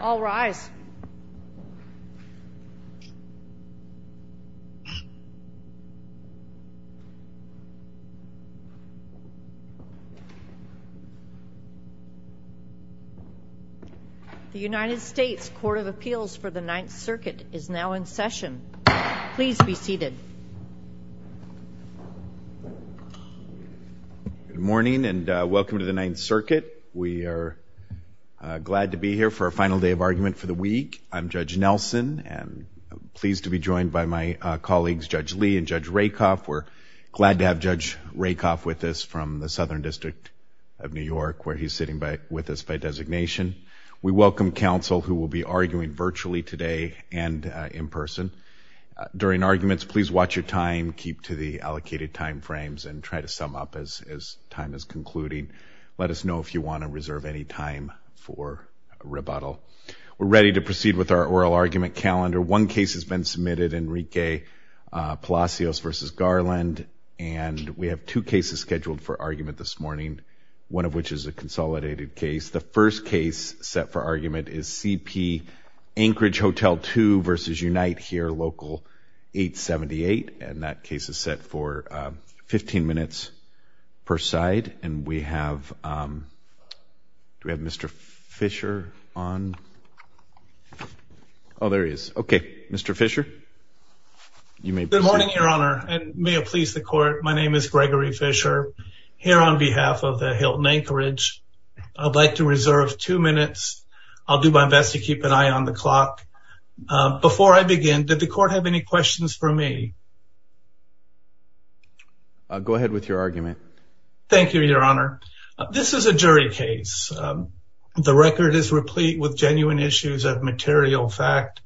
All rise. The United States Court of Appeals for the Ninth Circuit is now in session. Please be seated. Good morning and welcome to the Ninth Circuit. We are glad to be here for our final day of argument for the week. I'm Judge Nelson and I'm pleased to be joined by my colleagues Judge Lee and Judge Rakoff. We're glad to have Judge Rakoff with us from the Southern District of New York where he's sitting with us by designation. We welcome counsel who will be arguing virtually today and in person. During arguments please watch your time, keep to the allocated time frames and try to sum up as time is concluding. Let us know if you want to reserve any time for rebuttal. We're ready to proceed with our oral argument calendar. One case has been submitted, Enrique Palacios v. Garland and we have two cases scheduled for argument this morning, one of which is a consolidated case. The first case set for the Anchorage Hotel 2 v. Unite here, Local 878 and that case is set for 15 minutes per side and we have, do we have Mr. Fischer on? Oh there he is. Okay, Mr. Fischer. Good morning your honor and may it please the court, my name is Gregory Fischer. Here on behalf of the Hilton Anchorage, I'd like to reserve two minutes. I'll do my best to keep an eye on the clock. Before I begin, did the court have any questions for me? Go ahead with your argument. Thank you your honor. This is a jury case. The record is replete with genuine issues of material fact.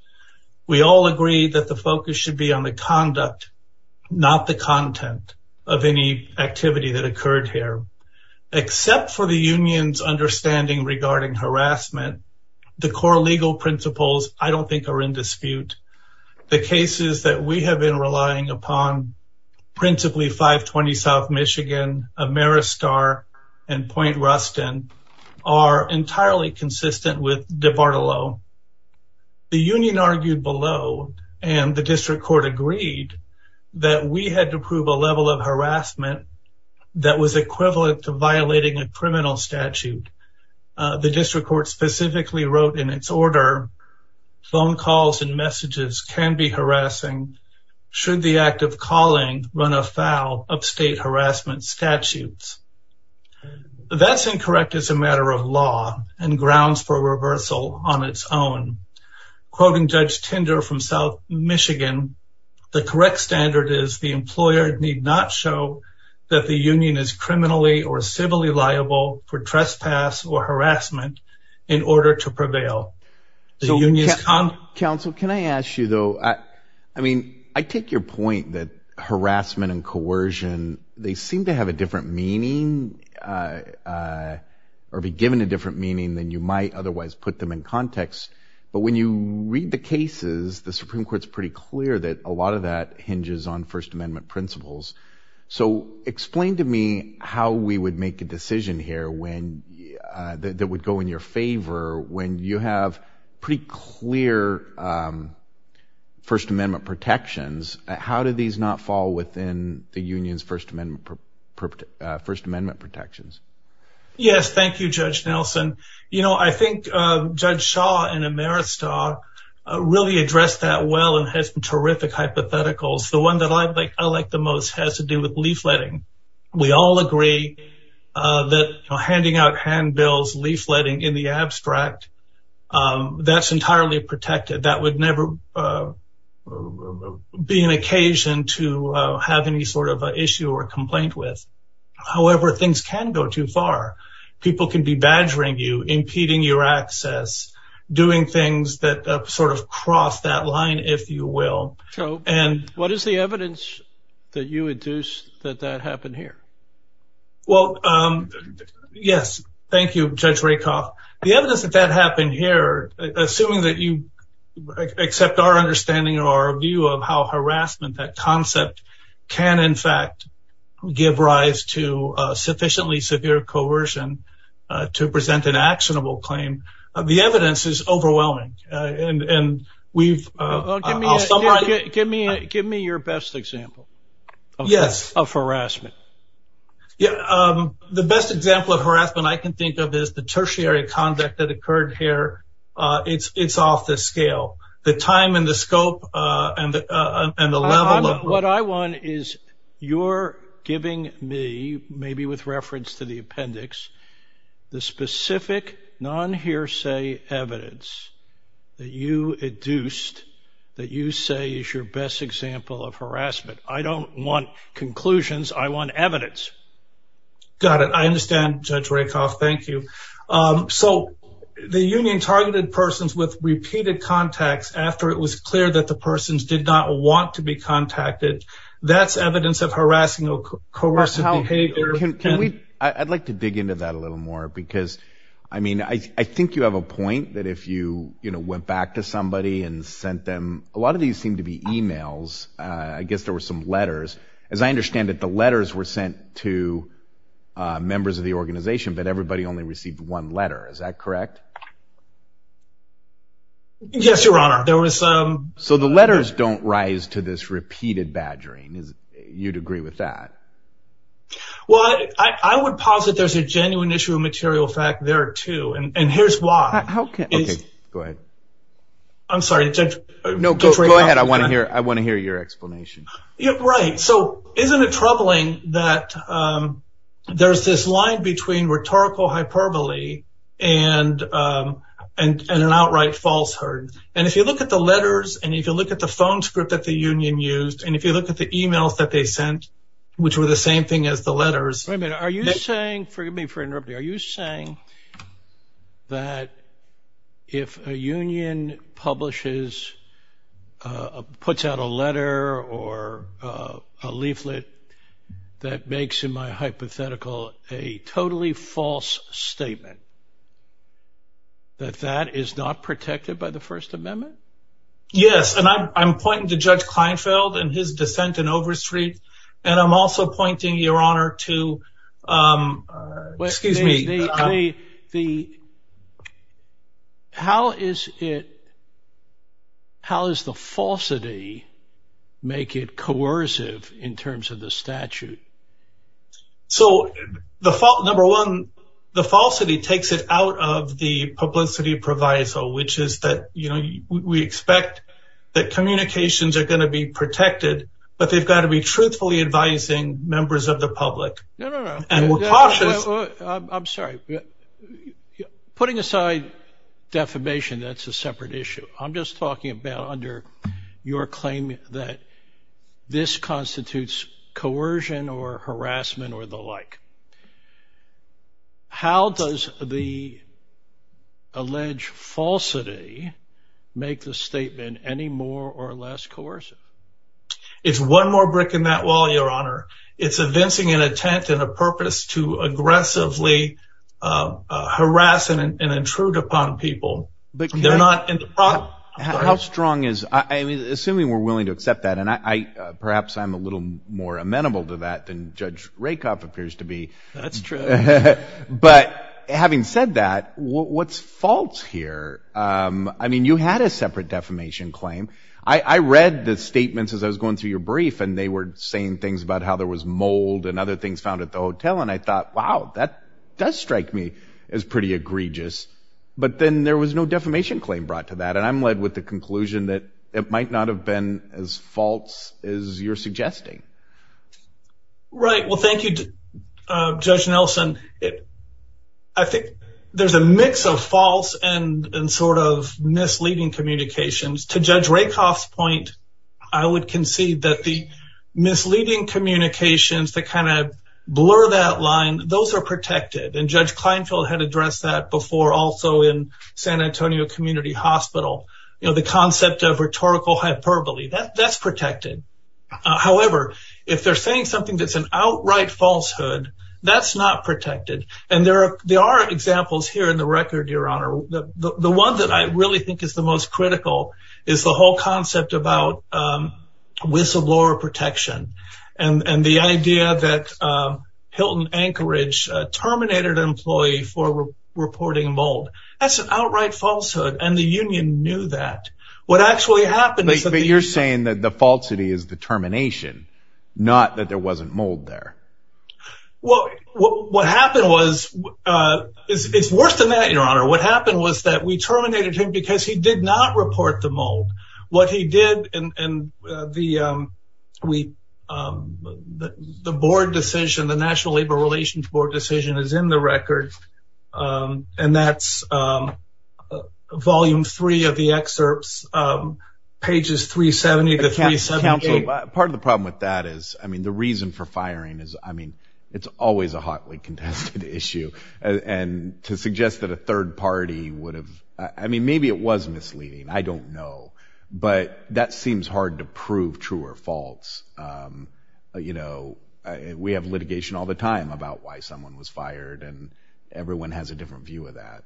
We all agree that the focus should be on the conduct, not the content of any activity that occurred here. Except for the union's understanding regarding harassment, the core legal principles I don't think are in dispute. The cases that we have been relying upon, principally 520 South Michigan, Ameristar and Point Ruston are entirely consistent with DeBartolo. The union argued below and the district court agreed that we had to prove a level of harassment that was equivalent to violating a criminal statute. The district court specifically wrote in its order, phone calls and messages can be harassing should the act of calling run afoul of state harassment statutes. That's incorrect as a matter of law and grounds for reversal on its own. Quoting Judge Tinder from South Michigan, the correct standard is the employer need not show that the union is criminally or civilly liable for trespass or harassment in order to prevail. The union's con- Counsel can I ask you though, I mean I take your point that harassment and coercion they seem to have a different meaning or be given a different meaning than you might otherwise put them in context, but when you read the cases the Supreme Court is pretty clear that a lot of that hinges on First Amendment principles. So explain to me how we would make a decision here that would go in your favor when you have pretty clear First Amendment protections. How do these not fall within the union's First Amendment protections? Yes, thank you Judge Nelson. You know, I think Judge Shaw in Ameristock really addressed that well and has terrific hypotheticals. The one that I like the most has to do with leafletting. We all agree that handing out handbills, leafletting in the abstract, that's entirely protected. That would never be an occasion to have any sort of issue or complaint with. However, things can go too far. People can be badgering you, impeding your access, doing things that sort of cross that line if you will. So what is the evidence that you induce that that happened here? Well, yes, thank you Judge Rakoff. The evidence that that happened here, assuming that you allow harassment, that concept, can in fact give rise to sufficiently severe coercion to present an actionable claim, the evidence is overwhelming. Give me your best example of harassment. The best example of harassment I can think of is the tertiary conduct that occurred here. It's off the scale. The time and the scope and the level of... What I want is your giving me, maybe with reference to the appendix, the specific non-hearsay evidence that you induced that you say is your best example of harassment. I don't want conclusions. I want evidence. Got it. I understand Judge Rakoff. Thank you. So the union targeted persons with repeated contacts after it was clear that the persons did not want to be contacted. That's evidence of harassing or coercive behavior. I'd like to dig into that a little more because I think you have a point that if you went back to somebody and sent them... A lot of these seem to be emails. I guess there were some letters. As I understand it, the letters were sent to members of the organization, but everybody only received one letter. Is that correct? Yes, Your Honor. There was... So the letters don't rise to this repeated badgering. You'd agree with that? Well, I would posit there's a genuine issue of material fact there too. And here's why. How can... Okay, go ahead. I'm sorry, Judge Rakoff. No, go ahead. I want to hear your explanation. Right. So isn't it troubling that there's this line between rhetorical hyperbole and an outright falsehood? And if you look at the letters, and if you look at the phone script that the union used, and if you look at the emails that they sent, which were the same thing as the letters... Forgive me for interrupting. Are you saying that if a union publishes, puts out a letter or a leaflet that makes, in my hypothetical, a totally false statement, that that is not protected by the First Amendment? Yes. And I'm pointing to Judge Kleinfeld and his dissent in Overstreet. And I'm also pointing, Your Honor, to... Excuse me. How is it... How does the falsity make it coercive in terms of the statute? So number one, the falsity takes it out of the publicity proviso, which is that we expect that communications are going to be protected, but they've got to be truthfully advising members of the public. No, no, no. And we're cautious... I'm sorry. Putting aside defamation, that's a separate issue. I'm just talking about under your claim that this constitutes coercion or harassment or the like. How does the alleged falsity make the statement any more or less coercive? It's one more brick in that wall, Your Honor. It's evincing an intent and a purpose to aggressively harass and intrude upon people. They're not in the problem. How strong is... I mean, assuming we're willing to accept that, and perhaps I'm a little more amenable to that than Judge Rakoff appears to be. That's true. But having said that, what's false here? I mean, you had a separate defamation claim. I read the statements as I was going through your brief, and they were saying things about how there was mold and other things found at the hotel. And I thought, wow, that does strike me as pretty egregious. But then there was no defamation claim brought to that. And I'm led with the conclusion that it might not have been as false as you're suggesting. Right. Well, thank you, Judge Nelson. I think there's a mix of false and sort of misleading communications. To Judge Rakoff's point, I would concede that the misleading communications that kind of blur that line, those are protected. And Judge Kleinfeld had addressed that before, also in San Antonio Community Hospital. The concept of rhetorical hyperbole, that's protected. However, if they're saying something that's an outright falsehood, that's not protected. The one that I really think is the most critical is the whole concept about whistleblower protection and the idea that Hilton Anchorage terminated an employee for reporting mold. That's an outright falsehood. And the union knew that. What actually happened is that- But you're saying that the falsity is the termination, not that there wasn't mold there. Well, what happened was, it's worse than that, Your Honor. What happened was that we terminated him because he did not report the mold. What he did, and the board decision, the National Labor Relations Board decision is in the record. And that's volume three of the excerpts, pages 370 to 378. Part of the problem with that is, I mean, the reason for firing is, I mean, it's always a hotly contested issue. And to suggest that a third party would have, I mean, maybe it was misleading. I don't know. But that seems hard to prove true or false. You know, we have litigation all the time about why someone was fired, and everyone has a different view of that.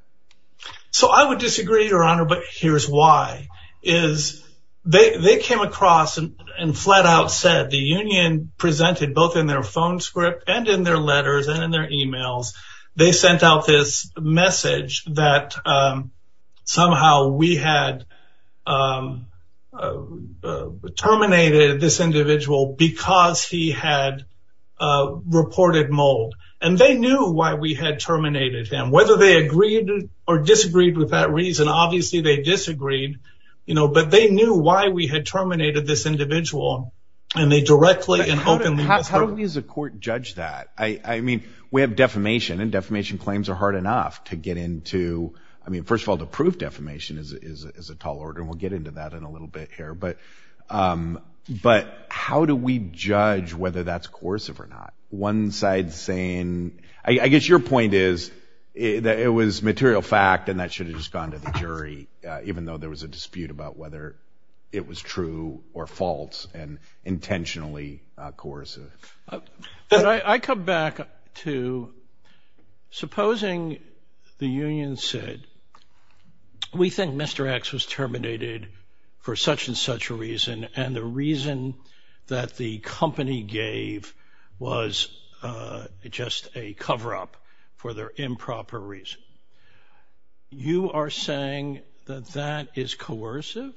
So I would disagree, Your Honor. But here's why, is they came across and flat out said, the union presented both in their phone script and in their letters and in their emails. They sent out this message that somehow we had terminated this individual because he had reported mold. And they knew why we had terminated him. Whether they agreed or disagreed with that reason, obviously, they disagreed, you know, but they knew why we had terminated this individual. And they directly and openly. How do we as a court judge that? I mean, we have defamation and defamation claims are hard enough to get into. I mean, first of all, the proof defamation is a tall order. We'll get into that in a little bit here. But how do we judge whether that's coercive or not? One side saying, I guess your point is that it was material fact and that should have just gone to the jury, even though there was a dispute about whether it was true or false and intentionally coercive. But I come back to supposing the union said, we think Mr. X was terminated for such and such a reason. And the reason that the company gave was just a cover up for their improper reason. You are saying that that is coercive.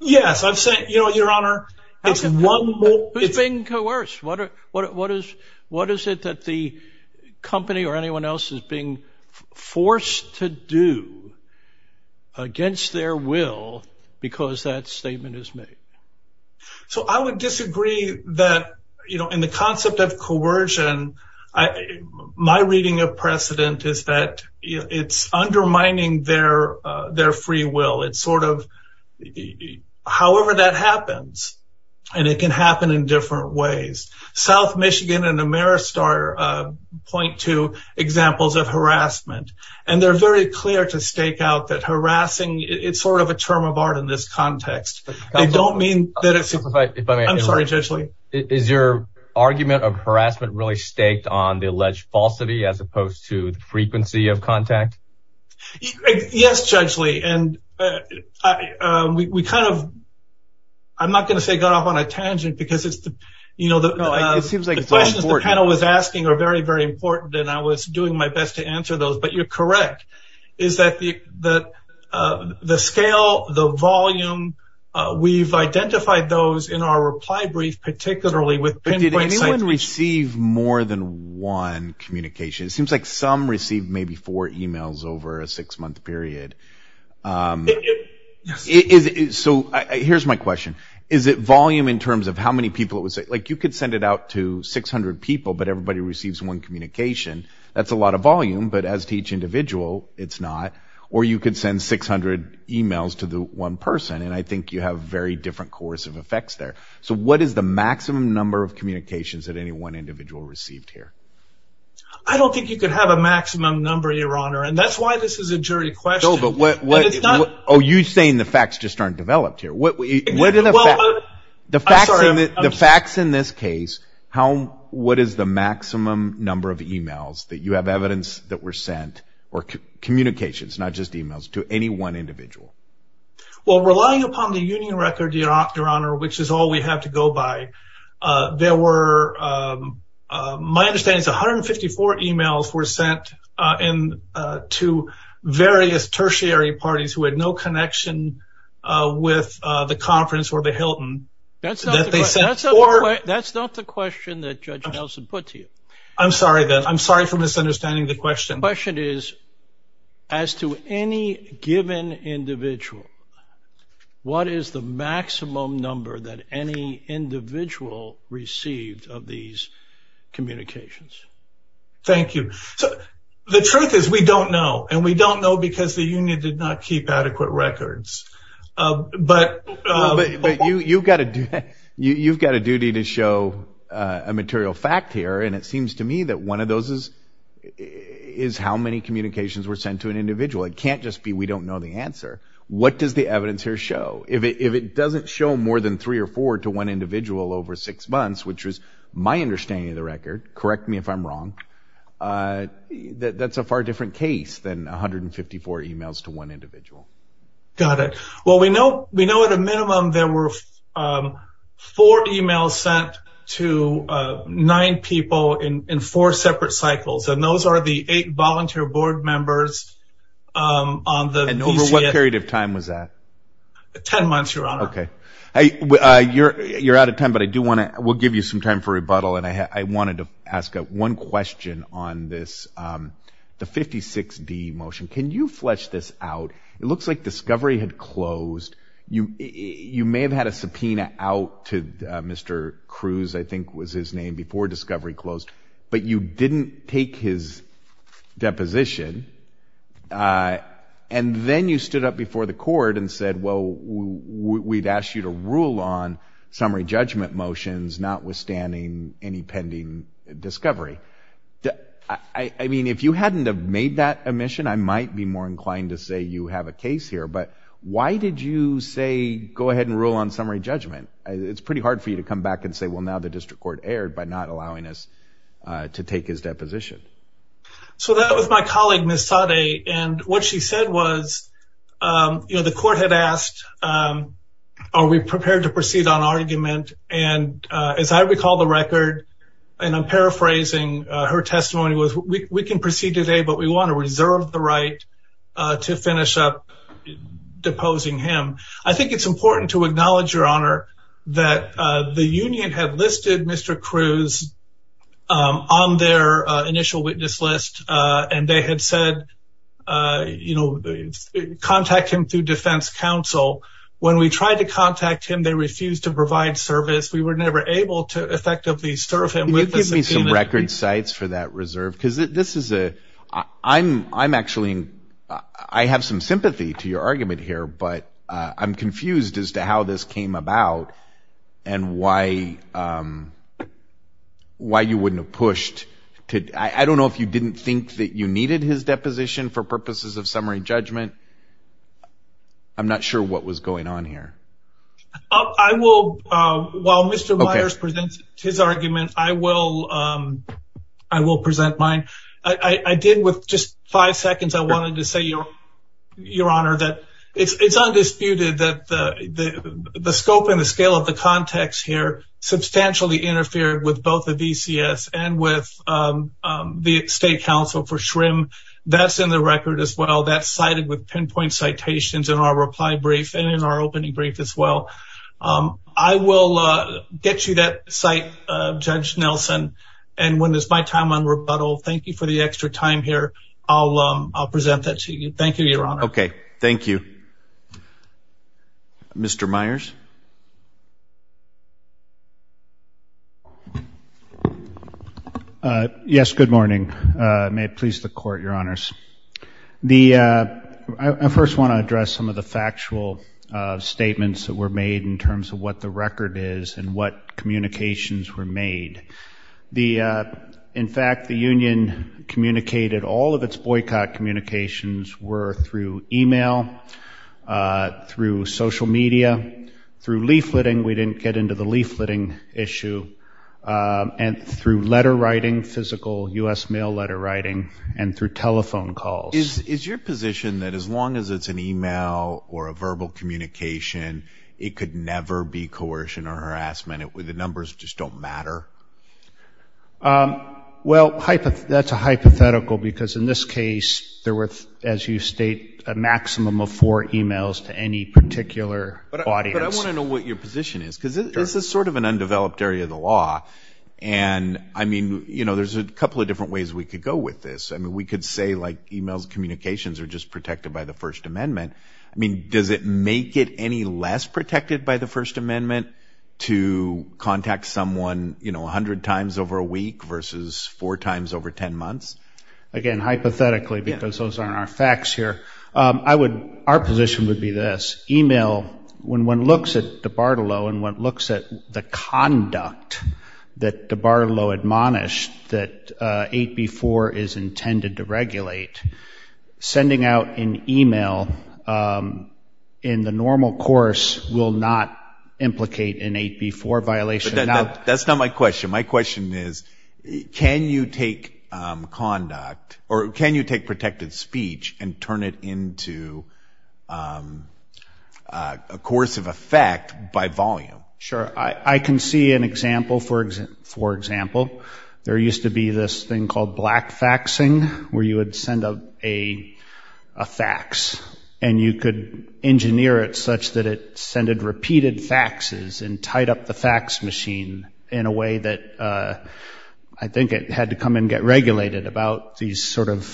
Yes, I've said, you know, your honor, it's one who's being coerced. What what is what is it that the company or anyone else is being forced to do against their will because that statement is made? So I would disagree that, you know, in the concept of coercion, my reading of precedent is that it's undermining their their free will. It's sort of however that happens and it can happen in different ways. South Michigan and Ameristar point to examples of harassment, and they're very clear to stake out that harassing it's sort of a term of art in this context. I don't mean that it's if I'm sorry, judgely, is your argument of harassment really staked on the alleged falsity as opposed to the frequency of contact? Yes, judgely. And we kind of. I'm not going to say got off on a tangent because it's the you know, it seems like the panel was asking are very, very important. And I was doing my best to answer those. But you're correct is that the that the scale, the volume, we've identified those in our reply brief, particularly with. But did anyone receive more than one communication? It seems like some received maybe four emails over a six month period. It is. So here's my question. Is it volume in terms of how many people it was like you could send it out to 600 people, but everybody receives one communication? That's a lot of volume. But as to each individual, it's not. Or you could send 600 emails to the one person. And I think you have very different course of effects there. So what is the maximum number of communications that any one individual received here? I don't think you could have a maximum number, your honor, and that's why this is a jury question. But what are you saying? The facts just aren't developed here. What are the facts in this case? How what is the maximum number of emails that you have evidence that were sent or communications, not just emails to any one individual? Well, relying upon the union record, your honor, which is all we have to go by. There were, my understanding is 154 emails were sent in to various tertiary parties who had no connection with the conference or the Hilton. That's that's that's that's not the question that Judge Nelson put to you. I'm sorry that I'm sorry for misunderstanding the question. The question is, as to any given individual, what is the maximum number that any individual received of these communications? Thank you. So the truth is, we don't know. And we don't know because the union did not keep adequate records. But you've got to you've got a duty to show a material fact here. And it seems to me that one of those is is how many communications were sent to an individual. It can't just be we don't know the answer. What does the evidence here show? If it doesn't show more than three or four to one individual over six months, which was my understanding of the record. Correct me if I'm wrong. That's a far different case than 154 emails to one individual. Got it. Well, we know we know at a minimum, there were four emails sent to nine people in four separate cycles. And those are the eight volunteer board members on the. And over what period of time was that? Ten months, your honor. OK, you're out of time, but I do want to we'll give you some time for rebuttal. And I wanted to ask one question on this, the 56D motion. Can you flesh this out? It looks like discovery had closed. You you may have had a subpoena out to Mr. Cruz, I think was his name before discovery closed. But you didn't take his deposition. And then you stood up before the court and said, well, we've asked you to rule on summary judgment motions, notwithstanding any pending discovery. I mean, if you hadn't have made that omission, I might be more inclined to say you have a case here. But why did you say go ahead and rule on summary judgment? It's pretty hard for you to come back and say, well, now the district court erred by not allowing us to take his deposition. So that was my colleague, Ms. Sade. And what she said was, you know, the court had asked, are we prepared to proceed on argument? And as I recall the record, and I'm paraphrasing her testimony was, we can proceed today, but we want to reserve the right to finish up deposing him. I think it's important to acknowledge, Your Honor, that the union had listed Mr. Cruz on their initial witness list. And they had said, you know, contact him through defense counsel. When we tried to contact him, they refused to provide service. We were never able to effectively serve him. Can you give me some record sites for that reserve? Because this is a, I'm actually, I have some sympathy to your argument here, but I'm confused as to how this came about and why you wouldn't have pushed. I don't know if you didn't think that you needed his deposition for purposes of summary judgment. I'm not sure what was going on here. I will, while Mr. Myers presents his argument, I will, I will present mine. I did with just five seconds. I wanted to say, Your Honor, that it's undisputed that the scope and the scale of the context here substantially interfered with both the VCS and with the state counsel for SHRM. That's in the record as well. That's cited with pinpoint citations in our reply brief and in our opening brief as well. I will get you that site, Judge Nelson. And when it's my time on rebuttal, thank you for the extra time here. I'll, I'll present that to you. Thank you, Your Honor. Okay. Thank you. Mr. Myers. Yes. Good morning. May it please the court, Your Honors. The, I first want to address some of the factual statements that were made in terms of what the record is and what communications were made. The, in fact, the union communicated all of its boycott communications were through email, through social media, through leafleting. We didn't get into the leafleting issue. And through letter writing, physical U.S. mail letter writing, and through telephone calls. Is, is your position that as long as it's an email or a verbal communication, it could never be coercion or harassment? It would, the numbers just don't matter? Well, that's a hypothetical because in this case, there were, as you state, a maximum of four emails to any particular audience. But I want to know what your position is. Cause this is sort of an undeveloped area of the law. And I mean, you know, there's a couple of different ways we could go with this. I mean, we could say like emails and communications are just protected by the first amendment. I mean, does it make it any less protected by the first amendment to contact someone, you know, a hundred times over a week versus four times over 10 months? Again, hypothetically, because those aren't our facts here. I would, our position would be this, email, when one looks at DiBartolo and one looks at the conduct that DiBartolo admonished that 8B4 is intended to regulate, sending out an email in the normal course will not implicate an 8B4 violation. That's not my question. My question is, can you take conduct or can you take protected speech and turn it into a course of effect by volume? Sure. I can see an example, for example, there used to be this thing called black faxing, where you would send a fax and you could engineer it such that it sended repeated faxes and tied up the fax machine in a way that I think it had to come and get regulated about these sort of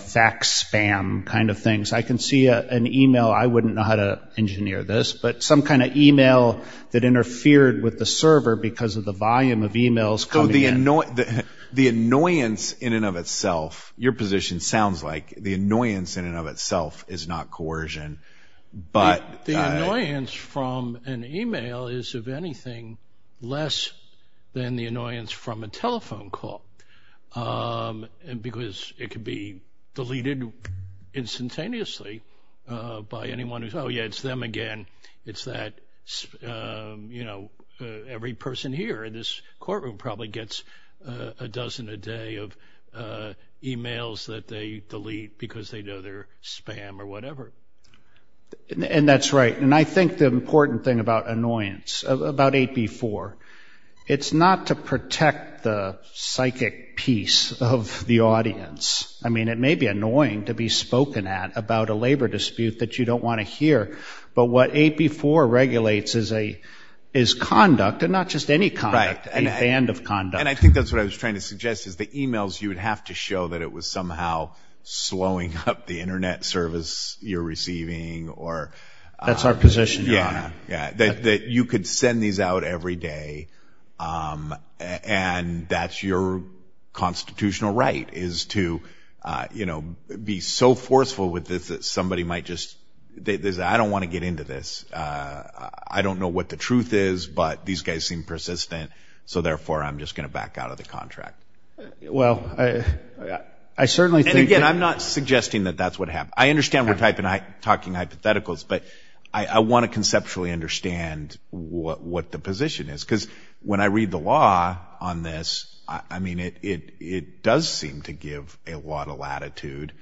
fax spam kind of things. I can see an email. I wouldn't know how to engineer this, but some kind of email that interfered with the server because of the volume of emails coming in. So the annoyance in and of itself, your position sounds like the annoyance in and of itself is not coercion. But the annoyance from an email is, if anything, less than the annoyance from a telephone call, because it could be deleted instantaneously by anyone who's, oh, yeah, it's them again. It's that, you know, every person here in this courtroom probably gets a dozen a day of emails that they delete because they know they're spam or whatever. And that's right. And I think the important thing about annoyance, about 8B4, it's not to protect the psychic piece of the audience. I mean, it may be annoying to be spoken at about a labor dispute that you don't want to hear. But what 8B4 regulates is conduct and not just any conduct, a band of conduct. And I think that's what I was trying to suggest, is the emails you would have to show that it was somehow slowing up the Internet service you're receiving or. That's our position, Your Honor. Yeah, that you could send these out every day and that's your constitutional right, is to, you know, be so forceful with this that somebody might just, I don't want to get into this. I don't know what the truth is, but these guys seem persistent. So therefore, I'm just going to back out of the contract. Well, I certainly think. And again, I'm not suggesting that that's what happened. I understand we're talking hypotheticals, but I want to conceptually understand what the position is, because when I read the law on this, I mean, it does seem to give a lot of latitude.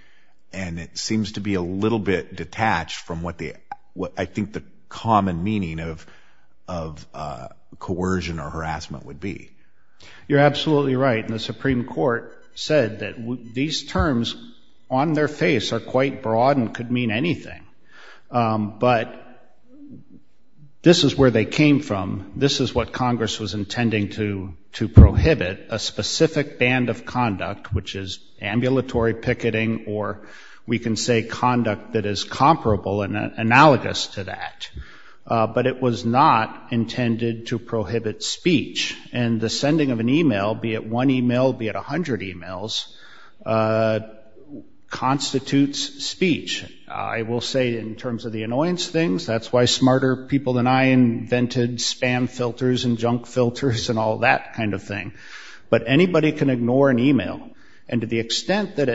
And it seems to be a little bit detached from what I think the common meaning of coercion or harassment would be. You're absolutely right. And the Supreme Court said that these terms on their face are quite broad and could mean anything. But this is where they came from. This is what Congress was intending to prohibit, a specific band of conduct, which is ambulatory picketing, or we can say conduct that is comparable and analogous to that. But it was not intended to prohibit speech. And the sending of an email, be it one email, be it a hundred emails, constitutes speech. I will say in terms of the annoyance things, that's why smarter people than I invented spam filters and junk filters and all that kind of thing. But anybody can ignore an email. And to the extent that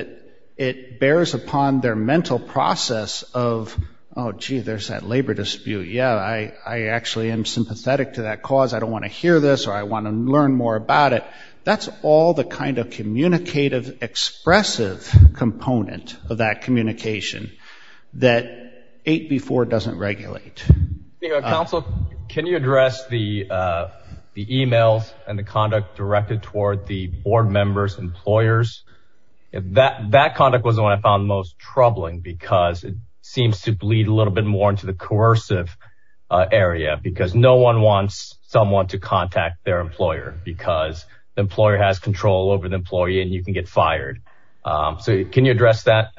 it bears upon their mental process of, oh, gee, there's that labor dispute. Yeah, I actually am sympathetic to that cause. I don't want to hear this or I want to learn more about it. That's all the kind of communicative, expressive component of that communication. That 8B4 doesn't regulate. Counsel, can you address the emails and the conduct directed toward the board members, employers? That conduct was the one I found most troubling because it seems to bleed a little bit more into the coercive area because no one wants someone to contact their employer because the employer has control over the employee and you can get fired. So can you address that?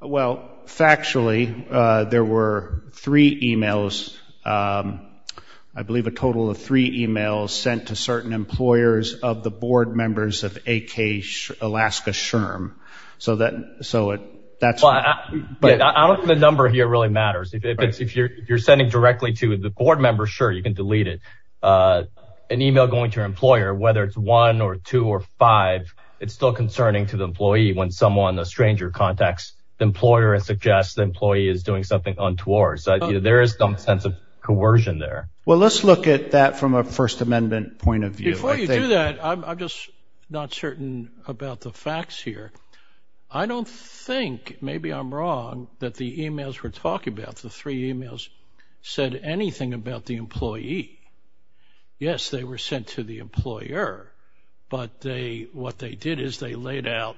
Well, factually, there were three emails, I believe a total of three emails sent to certain employers of the board members of AK Alaska SHRM. So that so that's why the number here really matters. If you're sending directly to the board members, sure, you can delete it. An email going to your employer, whether it's one or two or five, it's still concerning to the employee when someone, a stranger contacts the employer and suggests the employee is doing something untoward. So there is some sense of coercion there. Well, let's look at that from a First Amendment point of view. Before you do that, I'm just not certain about the facts here. I don't think maybe I'm wrong that the emails we're talking about, the three emails said anything about the employee. Yes, they were sent to the employer, but they what they did is they laid out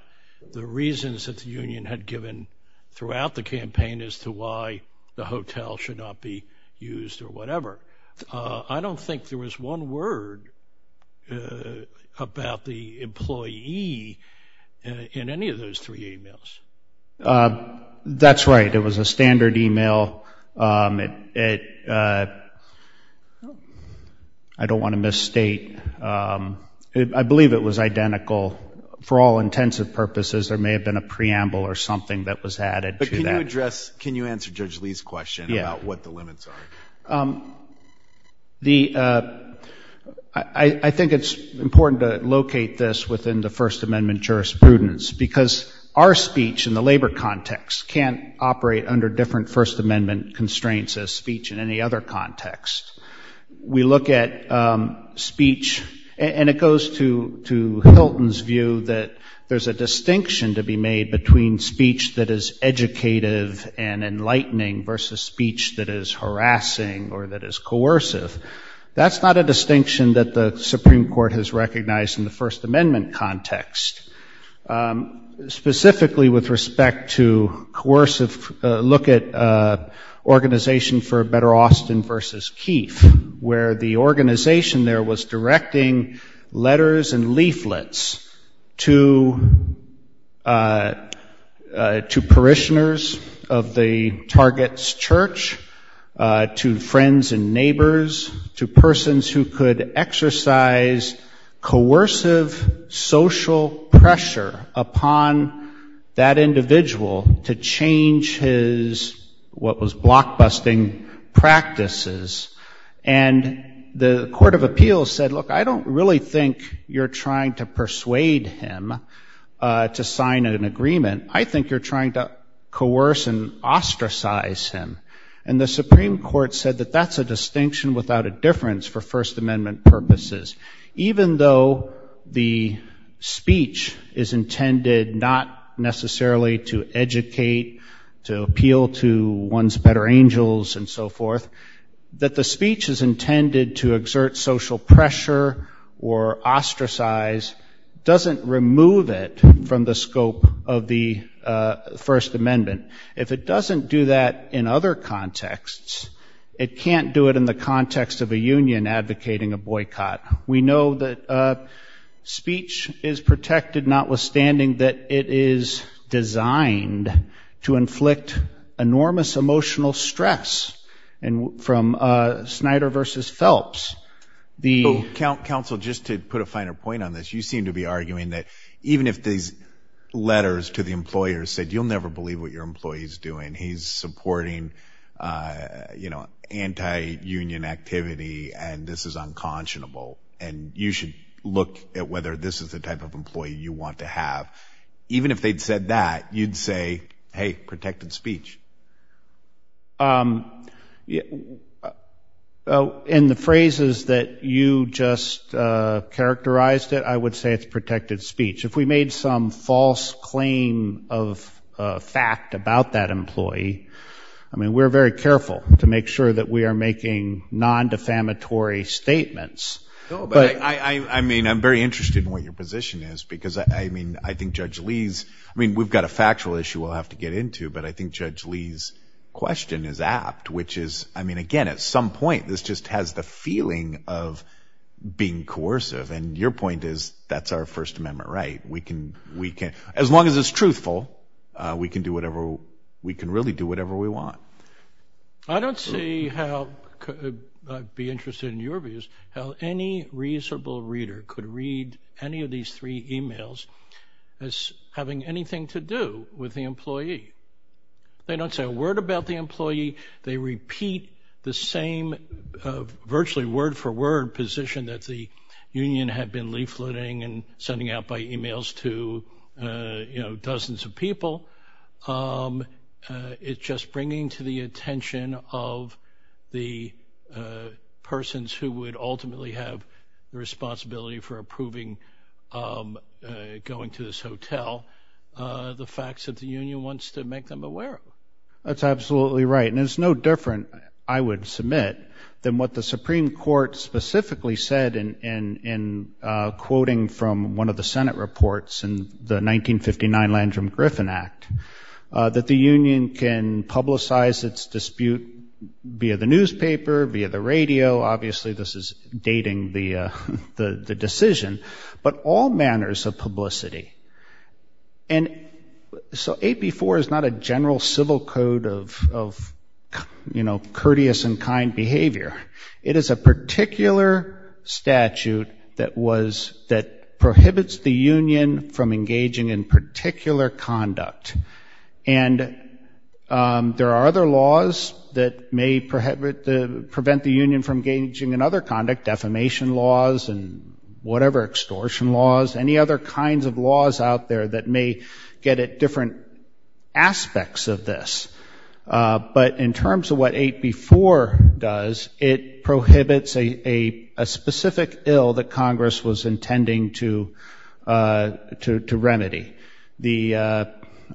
the reasons that the union had given throughout the campaign as to why the hotel should not be used or whatever. I don't think there was one word about the employee in any of those three emails. That's right. It was a standard email. It I don't want to misstate, I believe it was identical for all intents and purposes. There may have been a preamble or something that was added to that address. Can you answer Judge Lee's question about what the limits are? I think it's important to locate this within the First Amendment jurisprudence because our speech in the labor context can't operate under different First Amendment constraints as speech in any other context. We look at speech and it goes to Hilton's view that there's a distinction to be made between speech that is educative and enlightening versus speech that is harassing or that is coercive. That's not a distinction that the Supreme Court has recognized in the First Amendment context. Specifically with respect to coercive, look at Organization for a Better Austin versus Keefe, where the organization there was directing letters and leaflets to parishioners of the Target's church, to friends and neighbors, to persons who could exercise coercive social pressure upon that individual to change his what was blockbusting practices. And the Court of Appeals said, look, I don't really think you're trying to persuade him to sign an agreement. I think you're trying to coerce and ostracize him. And the Supreme Court said that that's a distinction without a difference for First Amendment purposes. Even though the speech is intended not necessarily to educate, to appeal to one's better angels and so forth, that the speech is intended to exert social pressure or ostracize doesn't remove it from the scope of the First Amendment. If it doesn't do that in other contexts, it can't do it in the context of a union advocating a boycott. We know that speech is protected, notwithstanding that it is designed to inflict enormous emotional stress. And from Snyder versus Phelps, the- He's supporting, you know, anti-union activity, and this is unconscionable. And you should look at whether this is the type of employee you want to have. Even if they'd said that, you'd say, hey, protected speech. In the phrases that you just characterized it, I would say it's protected speech. If we made some false claim of fact about that employee, I mean, we're very careful to make sure that we are making non-defamatory statements. No, but I mean, I'm very interested in what your position is, because I mean, I think Judge Lee's, I mean, we've got a factual issue we'll have to get into. But I think Judge Lee's question is apt, which is, I mean, again, at some point, this just has the feeling of being coercive. And your point is that's our First Amendment, right? We can, we can, as long as it's truthful, we can do whatever we can really do, whatever we want. I don't see how, I'd be interested in your views, how any reasonable reader could read any of these three emails as having anything to do with the employee. They don't say a word about the employee. They repeat the same virtually word for word position that the union had been leafleting and sending out by emails to, you know, dozens of people. It's just bringing to the attention of the persons who would ultimately have the responsibility for approving, going to this hotel, the facts that the union wants to make them aware of. That's absolutely right. And it's no different, I would submit, than what the Supreme Court specifically said in quoting from one of the Senate reports in the 1959 Landrum Griffin Act, that the union can publicize its dispute via the newspaper, via the radio. Obviously, this is dating the decision, but all manners of publicity. And so AP4 is not a general civil code of, of, you know, courteous and kind behavior. It is a particular statute that was, that prohibits the union from engaging in particular conduct. And there are other laws that may prevent the union from engaging in other conduct, defamation laws and whatever, extortion laws, any other kinds of laws out there that may get at different aspects of this. But in terms of what AP4 does, it prohibits a specific ill that Congress was intending to, to remedy. The,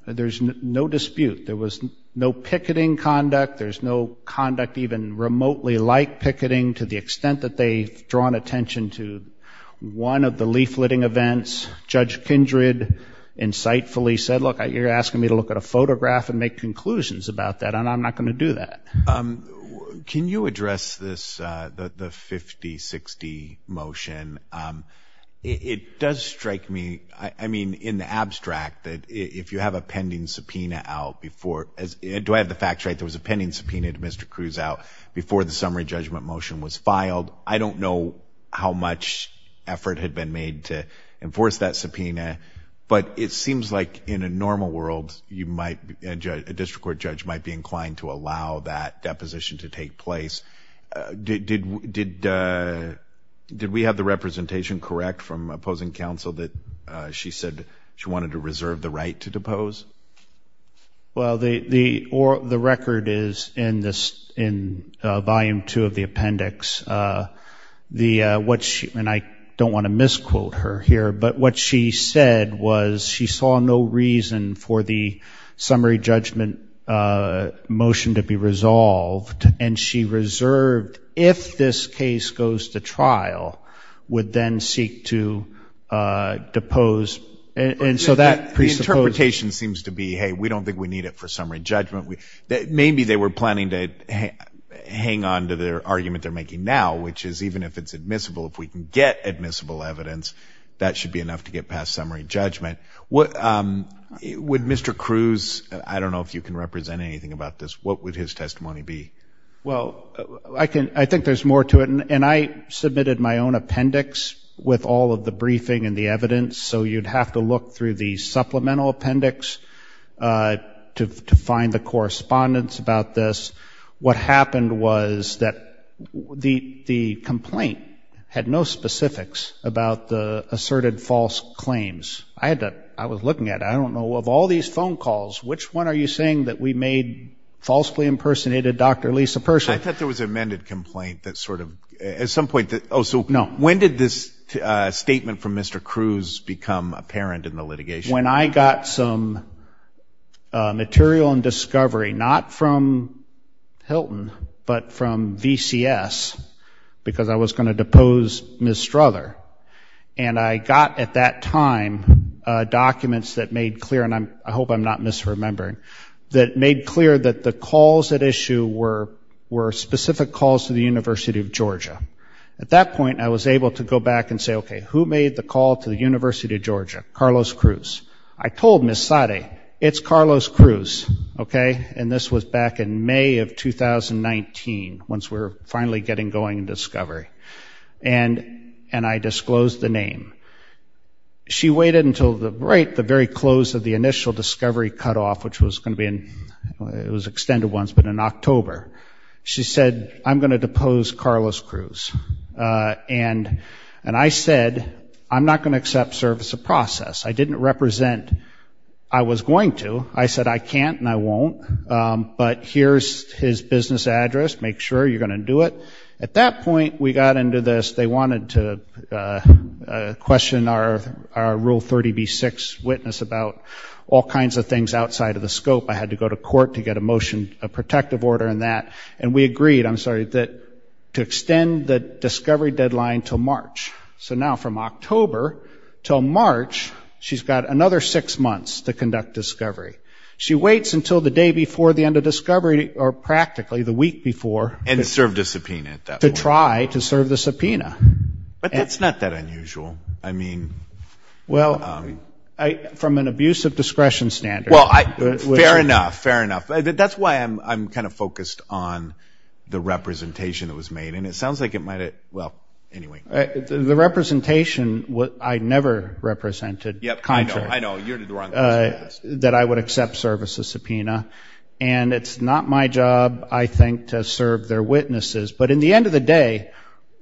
there's no dispute. There was no picketing conduct. There's no conduct even remotely like picketing to the extent that they've drawn attention to one of the leafletting events. Judge Kindred insightfully said, look, you're asking me to look at a photograph and make conclusions about that. And I'm not going to do that. Can you address this, the 50-60 motion? It does strike me. I mean, in the abstract that if you have a pending subpoena out before, do I have the facts right? There was a pending subpoena to Mr. Cruz out before the summary judgment motion was filed. I don't know how much effort had been made to enforce that subpoena, but it seems like in a normal world, you might, a district court judge might be inclined to allow that deposition to take place. Did, did, did, did we have the representation correct from opposing counsel that she said she wanted to reserve the right to depose? Well, the, the, or the record is in this, in volume two of the appendix, the, what she, and I don't want to misquote her here, but what she said was she saw no reason for the summary judgment motion to be resolved. And she reserved, if this case goes to trial, would then seek to depose, and so that presupposes. The interpretation seems to be, hey, we don't think we need it for summary judgment. We, maybe they were planning to hang on to their argument they're making now, which is even if it's admissible, if we can get admissible evidence, that should be enough to get past summary judgment. Would Mr. Cruz, I don't know if you can represent anything about this, what would his testimony be? Well, I can, I think there's more to it, and I submitted my own appendix with all of the briefing and the evidence, so you'd have to look through the supplemental appendix to, to find the correspondence about this. What happened was that the, the complaint had no specifics about the asserted false claims. I had to, I was looking at, I don't know, of all these phone calls, which one are you saying that we made falsely impersonated Dr. Lisa Pershing? I thought there was an amended complaint that sort of, at some point that, oh, so when did this statement from Mr. Cruz become apparent in the litigation? When I got some material and discovery, not from Hilton, but from VCS, because I was going to depose Ms. Strother, and I got at that time documents that made clear, and I'm, I hope I'm not misremembering, that made clear that the calls at issue were, were specific calls to the University of Georgia. At that point, I was able to go back and say, okay, who made the call to the University of Georgia? Carlos Cruz. I told Ms. Sade, it's Carlos Cruz, okay, and this was back in May of 2019, once we were finally getting going in discovery, and, and I disclosed the name. She waited until the, right, the very close of the initial discovery cutoff, which was going to be in, it was extended once, but in October, she said, I'm going to depose Carlos Cruz. And, and I said, I'm not going to accept service of process. I didn't represent, I was going to, I said, I can't and I won't, but here's his business address, make sure you're going to do it. At that point, we got into this, they wanted to question our, our Rule 30b-6 witness about all kinds of things outside of the scope. I had to go to court to get a motion, a protective order in that. And we agreed, I'm sorry, that to extend the discovery deadline till March. So now from October till March, she's got another six months to conduct discovery. She waits until the day before the end of discovery, or practically the week before. And served a subpoena at that point. To try to serve the subpoena. But that's not that unusual. I mean. Well, I, from an abuse of discretion standard. Well, I, fair enough, fair enough. That's why I'm kind of focused on the representation that was made. And it sounds like it might have, well, anyway. The representation, I never represented. Yep, I know, I know, you're the wrong person to ask. That I would accept service of subpoena. And it's not my job, I think, to serve their witnesses. But in the end of the day,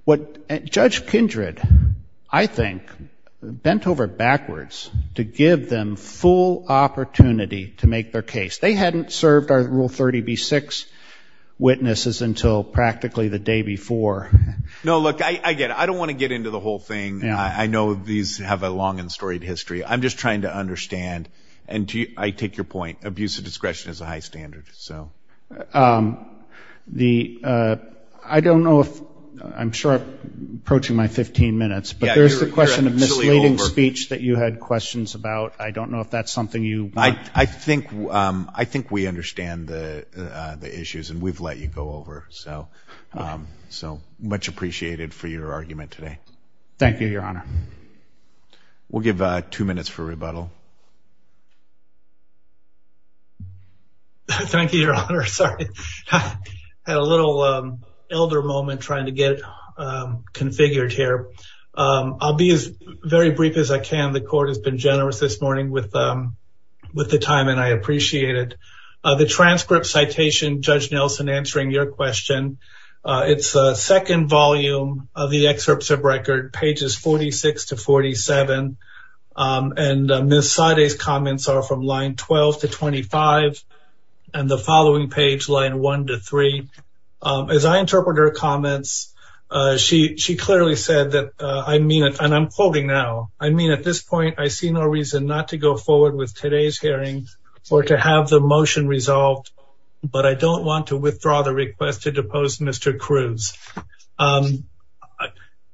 what Judge Kindred, I think, bent over backwards to give them full opportunity to make their case. They hadn't served our Rule 30b-6 witnesses until practically the day before. No, look, I get it. I don't want to get into the whole thing. I know these have a long and storied history. I'm just trying to understand. And I take your point. Abuse of discretion is a high standard, so. The, I don't know if, I'm sure I'm approaching my 15 minutes. But there's the question of misleading speech that you had questions about. I don't know if that's something you. I think we understand the issues, and we've let you go over. So much appreciated for your argument today. Thank you, Your Honor. We'll give two minutes for rebuttal. Thank you, Your Honor. Sorry, I had a little elder moment trying to get configured here. I'll be as very brief as I can. The court has been generous this morning with the time, and I appreciate it. The transcript citation, Judge Nelson answering your question. It's a second volume of the excerpts of record, pages 46 to 47. And Ms. Sade's comments are from line 12 to 25, and the following page, line 1 to 3. As I interpret her comments, she clearly said that, and I'm quoting now. I mean, at this point, I see no reason not to go forward with today's hearing or to have the motion resolved, but I don't want to withdraw the request to depose Mr. Cruz.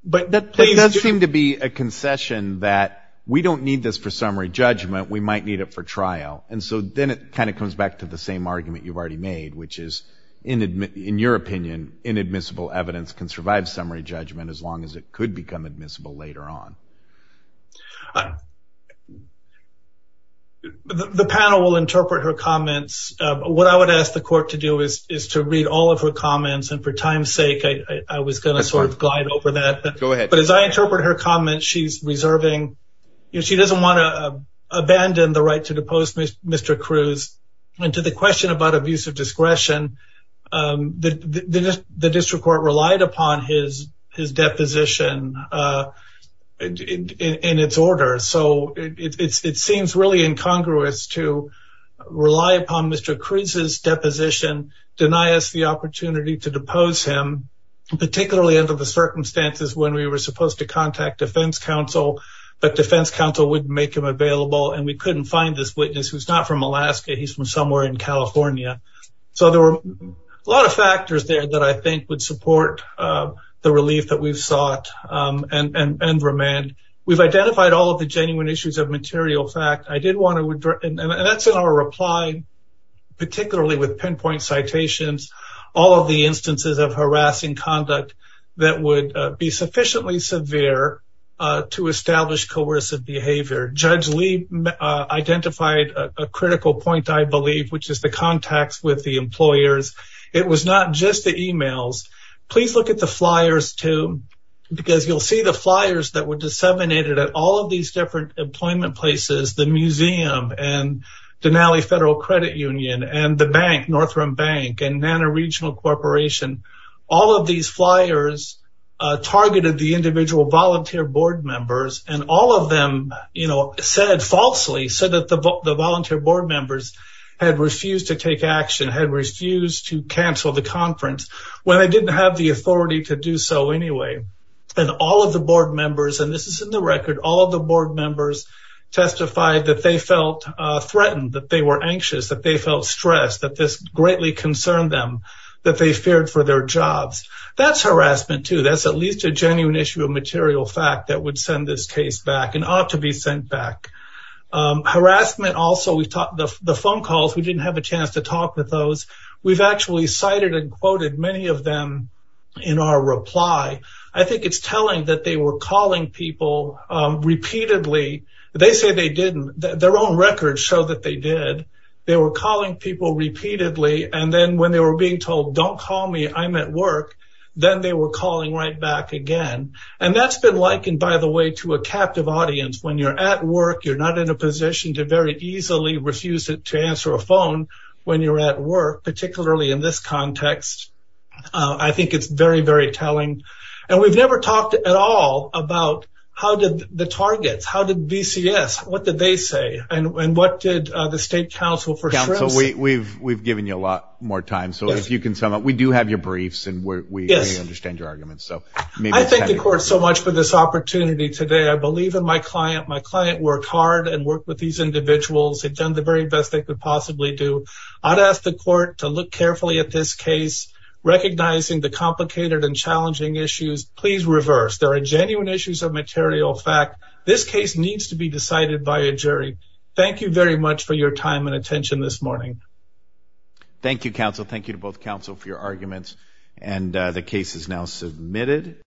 But that does seem to be a concession that we don't need this for summary judgment, we might need it for trial. And so then it kind of comes back to the same argument you've already made, which is, in your opinion, inadmissible evidence can survive summary judgment as long as it could become admissible later on. The panel will interpret her comments. What I would ask the court to do is to read all of her comments, and for time's sake, I was going to sort of glide over that. But as I interpret her comments, she's reserving, she doesn't want to abandon the right to depose Mr. Cruz. And to the question about abuse of discretion, the district court relied upon his deposition. And in its order, so it seems really incongruous to rely upon Mr. Cruz's deposition, deny us the opportunity to depose him, particularly under the circumstances when we were supposed to contact defense counsel, but defense counsel wouldn't make him available. And we couldn't find this witness who's not from Alaska, he's from somewhere in California. So there were a lot of factors there that I think would support the relief that we've sought and remand. We've identified all of the genuine issues of material fact. I did want to, and that's in our reply, particularly with pinpoint citations, all of the instances of harassing conduct that would be sufficiently severe to establish coercive behavior. Judge Lee identified a critical point, I believe, which is the contacts with the employers. It was not just the emails. Please look at the flyers too, because you'll see the flyers that were disseminated at all of these different employment places, the museum, and Denali Federal Credit Union, and the bank, North Rim Bank, and Nana Regional Corporation. All of these flyers targeted the individual volunteer board members, and all of them falsely said that the volunteer board members had refused to take action, had refused to cancel the conference. Well, they didn't have the authority to do so anyway. And all of the board members, and this is in the record, all of the board members testified that they felt threatened, that they were anxious, that they felt stressed, that this greatly concerned them, that they feared for their jobs. That's harassment too. That's at least a genuine issue of material fact that would send this case back and ought to be sent back. Harassment also, the phone calls, we didn't have a chance to talk with those. We've actually cited and quoted many of them in our reply. I think it's telling that they were calling people repeatedly. They say they didn't. Their own records show that they did. They were calling people repeatedly. And then when they were being told, don't call me, I'm at work, then they were calling right back again. And that's been likened, by the way, to a captive audience. When you're at work, you're not in a position to very easily refuse to answer a phone when you're at work, particularly in this context. I think it's very, very telling. And we've never talked at all about how did the targets, how did BCS, what did they say, and what did the State Council for Shrimps say? We've given you a lot more time, so if you can sum up. We do have your briefs, and we understand your arguments. So maybe it's time to go. I thank the court so much for this opportunity today. I believe in my client. My client worked hard and worked with these individuals. They've done the very best they could possibly do. I'd ask the court to look carefully at this case, recognizing the complicated and challenging issues. Please reverse. There are genuine issues of material fact. This case needs to be decided by a jury. Thank you very much for your time and attention this morning. Thank you, counsel. Thank you to both counsel for your arguments. And the case is now submitted.